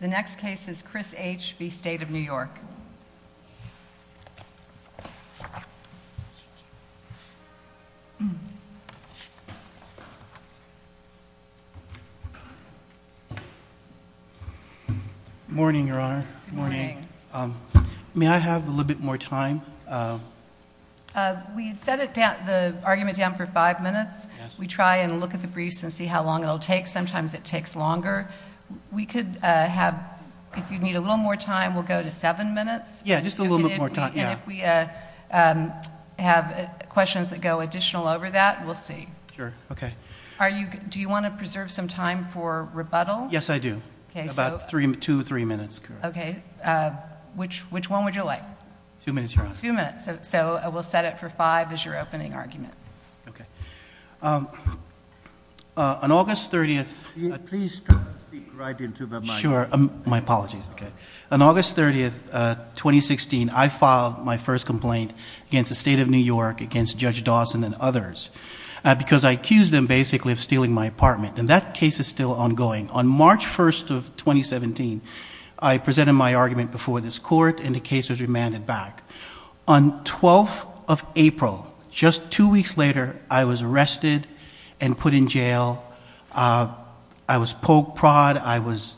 The next case is Chris H. v. State of New York. Morning, Your Honor. Good morning. May I have a little bit more time? We set the argument down for five minutes. We try and look at the briefs and see how long it will take. Sometimes it takes longer. We could have, if you need a little more time, we'll go to seven minutes. Yeah, just a little bit more time. And if we have questions that go additional over that, we'll see. Sure. Okay. Do you want to preserve some time for rebuttal? Yes, I do. About two or three minutes. Okay. Which one would you like? Two minutes, Your Honor. Two minutes. So we'll set it for five as your opening argument. Okay. On August 30th... Please speak right into the mic. Sure. My apologies. Okay. On August 30th, 2016, I filed my first complaint against the State of New York, against Judge Dawson and others, because I accused them basically of stealing my apartment. And that case is still ongoing. On March 1st of 2017, I presented my argument before this court, and the case was remanded back. On 12th of April, just two weeks later, I was arrested and put in jail. I was poke prod. I was...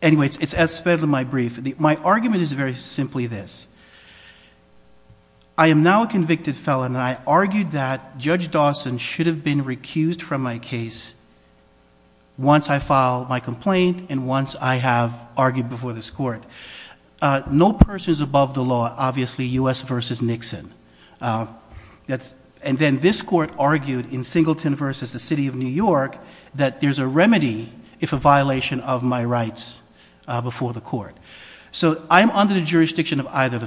Anyway, it's as fed to my brief. My argument is very simply this. I am now a convicted felon, and I argued that Judge Dawson should have been recused from my case once I filed my complaint and once I have argued before this court. No person is above the law. Obviously, U.S. versus Nixon. And then this court argued in Singleton versus the City of New York that there's a remedy if a violation of my rights before the court. So I'm under the jurisdiction of either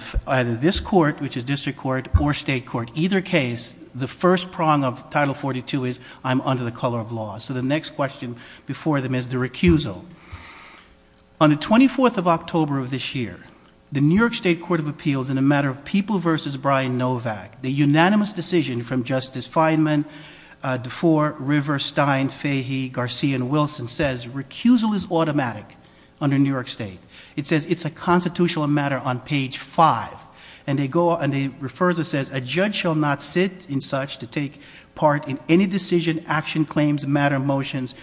this court, which is district court, or state court. In either case, the first prong of Title 42 is I'm under the color of law. So the next question before them is the recusal. On the 24th of October of this year, the New York State Court of Appeals, in a matter of People versus Brian Novak, the unanimous decision from Justice Feinman, DeFore, River, Stein, Fahey, Garcia, and Wilson says recusal is automatic under New York State. It says it's a constitutional matter on page 5. And they refer to it as says, a judge shall not sit in such to take part in any decision, action, claims, matter, motions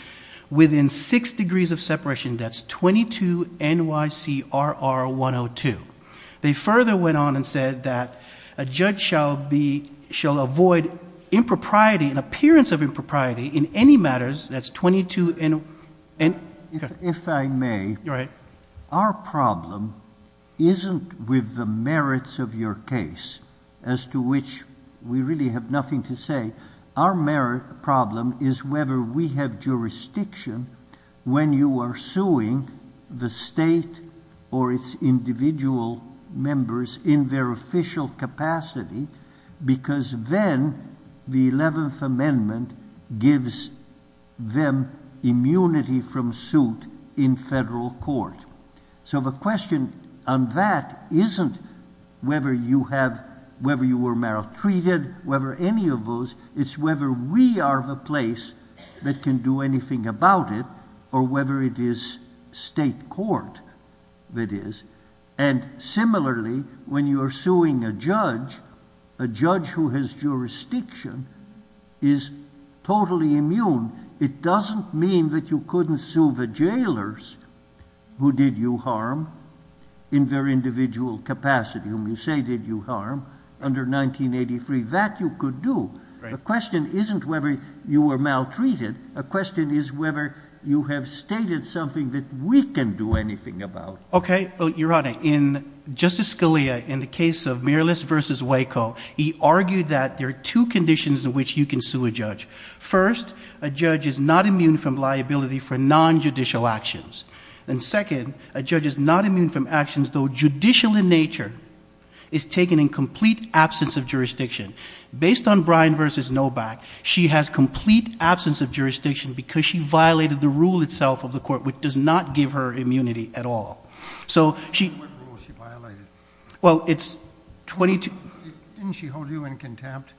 within six degrees of separation. That's 22 NYCRR 102. They further went on and said that a judge shall avoid impropriety, an appearance of impropriety, in any matters. If I may, our problem isn't with the merits of your case, as to which we really have nothing to say. Our merit problem is whether we have jurisdiction when you are suing the state or its individual members in their official capacity. Because then, the 11th Amendment gives them immunity from suit in federal court. So the question on that isn't whether you have, whether you were maltreated, whether any of those, it's whether we are the place that can do anything about it, or whether it is state court that is. And similarly, when you are suing a judge, a judge who has jurisdiction is totally immune. It doesn't mean that you couldn't sue the jailers who did you harm in their individual capacity, whom you say did you harm under 1983. That you could do. The question isn't whether you were maltreated. The question is whether you have stated something that we can do anything about. Okay. Your Honor, in Justice Scalia, in the case of Miralist v. Waco, he argued that there are two conditions in which you can sue a judge. First, a judge is not immune from liability for non-judicial actions. And second, a judge is not immune from actions, though judicial in nature, is taken in complete absence of jurisdiction. Based on Bryan v. Noback, she has complete absence of jurisdiction because she violated the rule itself of the court, which does not give her immunity at all. So she... What rule she violated? Well, it's 22... Didn't she hold you in contempt?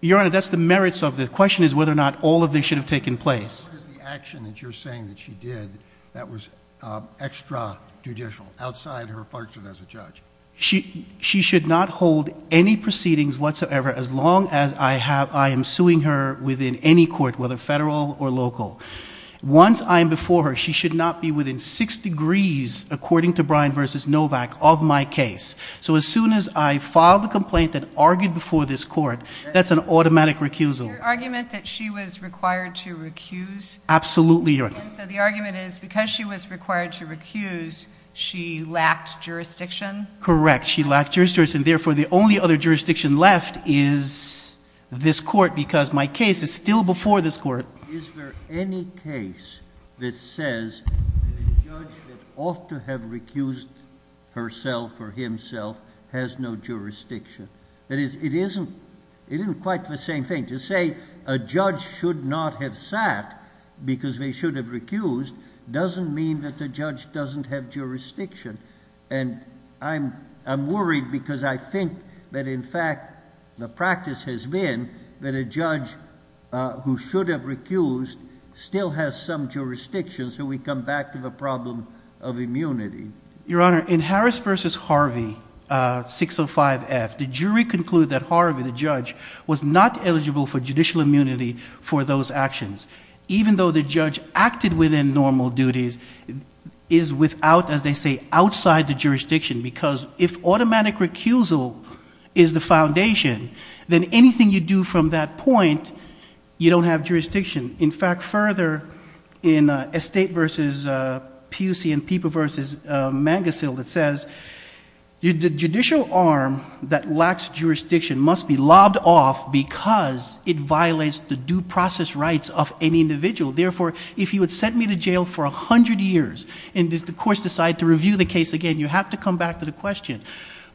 Your Honor, that's the merits of the question, is whether or not all of this should have taken place. What is the action that you're saying that she did that was extra-judicial, outside her function as a judge? She should not hold any proceedings whatsoever, as long as I am suing her within any court, whether federal or local. Once I am before her, she should not be within six degrees, according to Bryan v. Noback, of my case. So as soon as I file the complaint that argued before this court, that's an automatic recusal. Your argument that she was required to recuse? Absolutely, Your Honor. So the argument is because she was required to recuse, she lacked jurisdiction? Correct. She lacked jurisdiction. Therefore, the only other jurisdiction left is this court, because my case is still before this court. Is there any case that says that a judge that ought to have recused herself or himself has no jurisdiction? That is, it isn't quite the same thing. To say a judge should not have sat because they should have recused doesn't mean that the judge doesn't have jurisdiction. And I'm worried because I think that, in fact, the practice has been that a judge who should have recused still has some jurisdiction, so we come back to the problem of immunity. Your Honor, in Harris v. Harvey, 605F, the jury concluded that Harvey, the judge, was not eligible for judicial immunity for those actions, even though the judge acted within normal duties, is without, as they say, outside the jurisdiction, because if automatic recusal is the foundation, then anything you do from that point, you don't have jurisdiction. In fact, further, in Estate v. Pusey and Peeper v. Mangusill, it says, the judicial arm that lacks jurisdiction must be lobbed off because it violates the due process rights of any individual. Therefore, if you had sent me to jail for 100 years and the courts decide to review the case again, you have to come back to the question,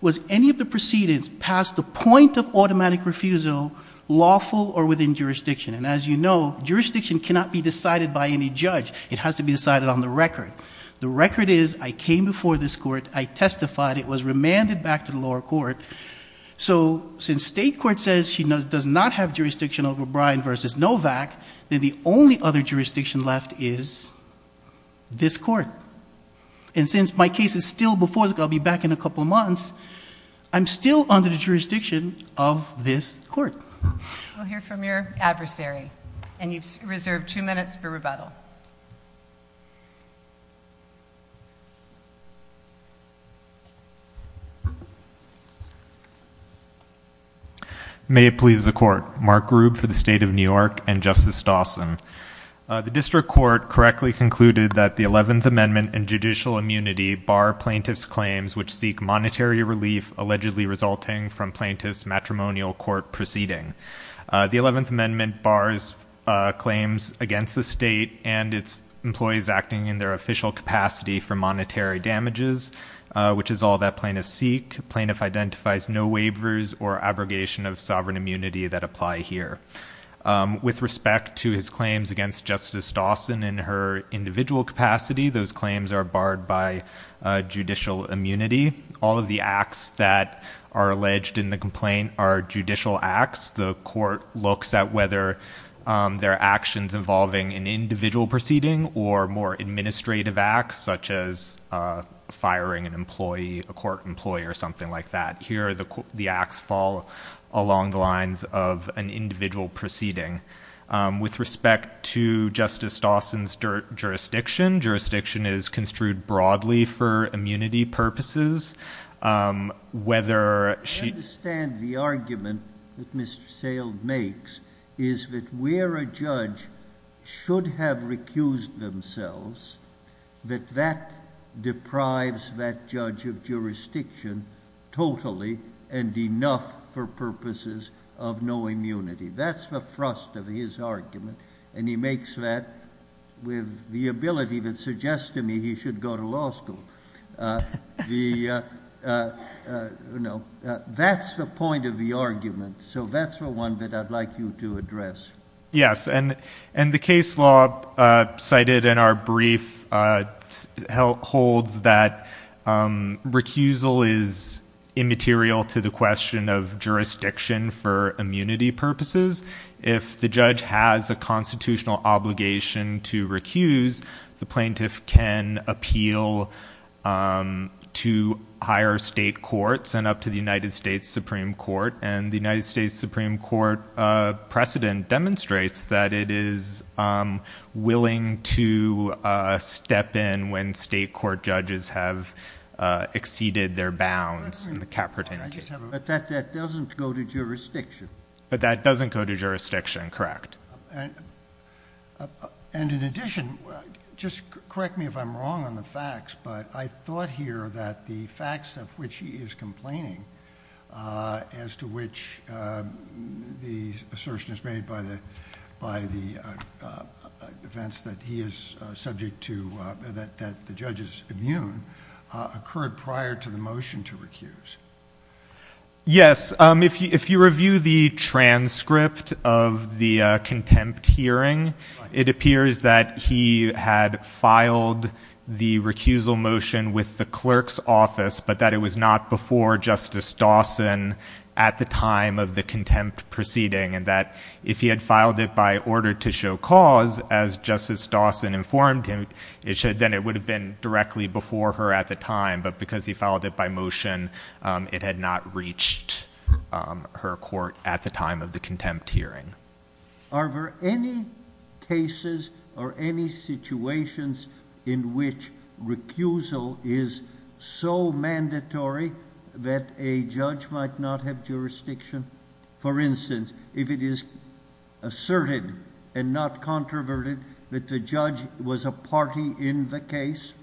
was any of the proceedings past the point of automatic refusal, lawful or within jurisdiction? And as you know, jurisdiction cannot be decided by any judge. It has to be decided on the record. The record is, I came before this court. I testified. It was remanded back to the lower court. So since state court says she does not have jurisdiction over Bryan v. Novak, then the only other jurisdiction left is this court. And since my case is still before the court, I'll be back in a couple months, I'm still under the jurisdiction of this court. We'll hear from your adversary. And you've reserved two minutes for rebuttal. May it please the Court. Mark Grube for the State of New York and Justice Dawson. The district court correctly concluded that the 11th Amendment and judicial immunity bar plaintiff's claims which seek monetary relief, allegedly resulting from plaintiff's matrimonial court proceeding. The 11th Amendment bars claims against the state and its employees acting in their official capacity for monetary damages, which is all that plaintiffs seek. Plaintiff identifies no waivers or abrogation of sovereign immunity that apply here. With respect to his claims against Justice Dawson in her individual capacity, those claims are barred by judicial immunity. All of the acts that are alleged in the complaint are judicial acts. The court looks at whether there are actions involving an individual proceeding or more administrative acts such as firing an employee, a court employee or something like that. Here the acts fall along the lines of an individual proceeding. With respect to Justice Dawson's jurisdiction, jurisdiction is construed broadly for immunity purposes. I understand the argument that Mr. Sale makes is that where a judge should have recused themselves, that that deprives that judge of jurisdiction totally and enough for purposes of no immunity. That's the thrust of his argument and he makes that with the ability that suggests to me he should go to law school. That's the point of the argument, so that's the one that I'd like you to address. Yes, and the case law cited in our brief holds that recusal is immaterial to the question of jurisdiction for immunity purposes. If the judge has a constitutional obligation to recuse, the plaintiff can appeal to higher state courts and up to the United States Supreme Court. And the United States Supreme Court precedent demonstrates that it is willing to step in when state court judges have exceeded their bounds in the cap pertaining case. But that doesn't go to jurisdiction. But that doesn't go to jurisdiction, correct. And in addition, just correct me if I'm wrong on the facts, but I thought here that the facts of which he is complaining as to which the assertion is made by the defense that he is subject to, that the judge is immune, occurred prior to the motion to recuse. Yes, if you review the transcript of the contempt hearing, it appears that he had filed the recusal motion with the clerk's office, but that it was not before Justice Dawson at the time of the contempt proceeding. And that if he had filed it by order to show cause, as Justice Dawson informed him, then it would have been directly before her at the time. But because he filed it by motion, it had not reached her court at the time of the contempt hearing. Are there any cases or any situations in which recusal is so mandatory that a judge might not have jurisdiction? For instance, if it is asserted and not controverted that the judge was a party in the case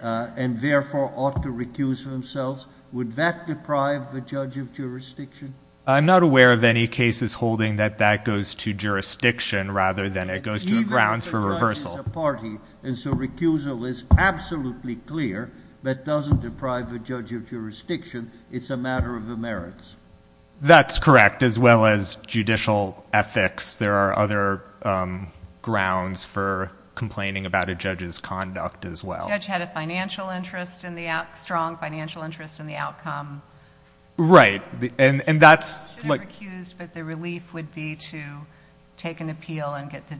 and therefore ought to recuse themselves, would that deprive the judge of jurisdiction? I'm not aware of any cases holding that that goes to jurisdiction rather than it goes to grounds for reversal. Even if the judge is a party, and so recusal is absolutely clear, that doesn't deprive the judge of jurisdiction. It's a matter of the merits. That's correct, as well as judicial ethics. There are other grounds for complaining about a judge's conduct as well. The judge had a strong financial interest in the outcome. Right. The judge should have recused, but the relief would be to take an appeal and get the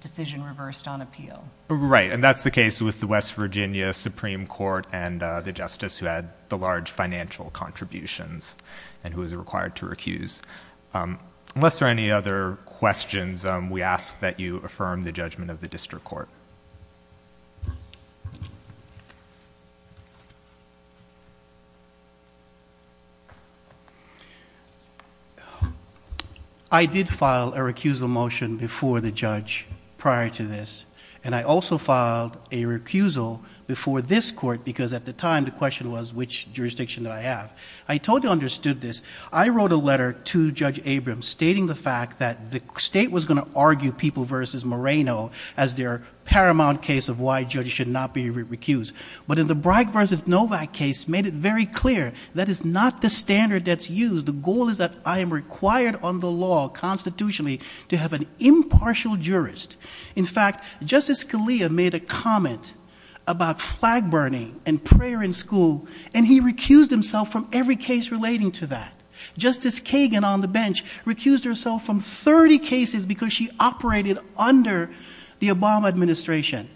decision reversed on appeal. Right, and that's the case with the West Virginia Supreme Court and the justice who had the large financial contributions and who was required to recuse. Unless there are any other questions, we ask that you affirm the judgment of the district court. I did file a recusal motion before the judge prior to this, and I also filed a recusal before this court because at the time the question was which jurisdiction did I have. I totally understood this. I wrote a letter to Judge Abrams stating the fact that the state was going to argue People v. Moreno as their paramount case of why judges should not be recused. But in the Bragg v. Novak case made it very clear that is not the standard that's used. The goal is that I am required under law constitutionally to have an impartial jurist. In fact, Justice Scalia made a comment about flag burning and prayer in school, and he recused himself from every case relating to that. Justice Kagan on the bench recused herself from 30 cases because she operated under the Obama administration.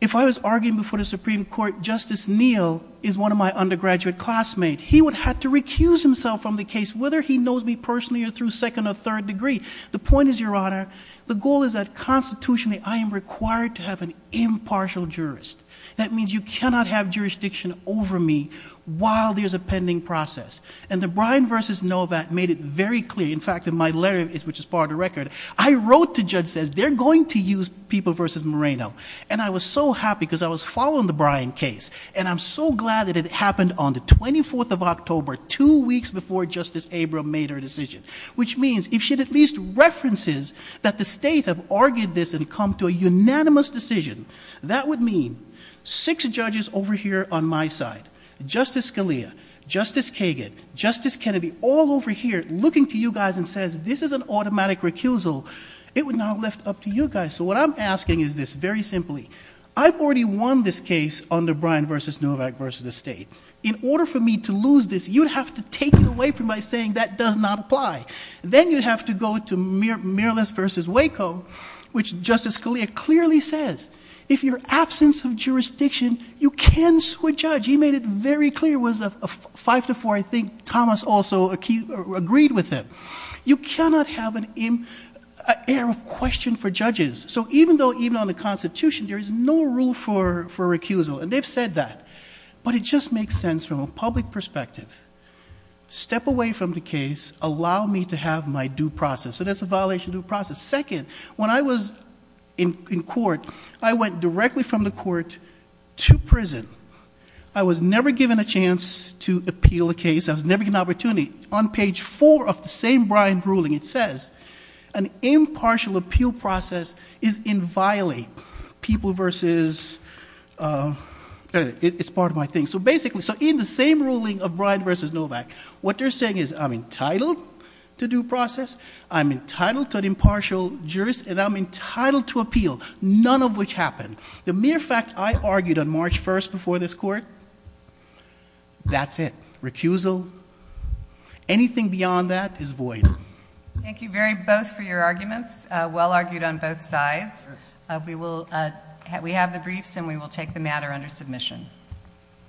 If I was arguing before the Supreme Court, Justice Neal is one of my undergraduate classmates. He would have to recuse himself from the case whether he knows me personally or through second or third degree. The point is, Your Honor, the goal is that constitutionally I am required to have an impartial jurist. That means you cannot have jurisdiction over me while there's a pending process. And the Bryan v. Novak made it very clear. In fact, in my letter, which is part of the record, I wrote to Judge Sessions, they're going to use People v. Moreno. And I was so happy because I was following the Bryan case. And I'm so glad that it happened on the 24th of October, two weeks before Justice Abrams made her decision. Which means if she at least references that the state have argued this and come to a unanimous decision, that would mean six judges over here on my side, Justice Scalia, Justice Kagan, Justice Kennedy, all over here looking to you guys and says this is an automatic recusal. It would not lift up to you guys. So what I'm asking is this very simply. I've already won this case under Bryan v. Novak v. the state. In order for me to lose this, you'd have to take it away from me by saying that does not apply. Then you'd have to go to Merlis v. Waco, which Justice Scalia clearly says. If you're absence of jurisdiction, you can sue a judge. He made it very clear. It was a five to four. I think Thomas also agreed with him. You cannot have an air of question for judges. So even on the Constitution, there is no rule for recusal. And they've said that. But it just makes sense from a public perspective. Step away from the case. Allow me to have my due process. So that's a violation of due process. Second, when I was in court, I went directly from the court to prison. I was never given a chance to appeal a case. I was never given an opportunity. On page four of the same Bryan ruling, it says an impartial appeal process is inviolate. People versus, it's part of my thing. So basically, in the same ruling of Bryan v. Novak, what they're saying is I'm entitled to due process, I'm entitled to an impartial jurisdiction, and I'm entitled to appeal, none of which happened. The mere fact I argued on March 1st before this court, that's it. Recusal. Anything beyond that is void. Thank you very much for your arguments. Well argued on both sides. We have the briefs, and we will take the matter under submission.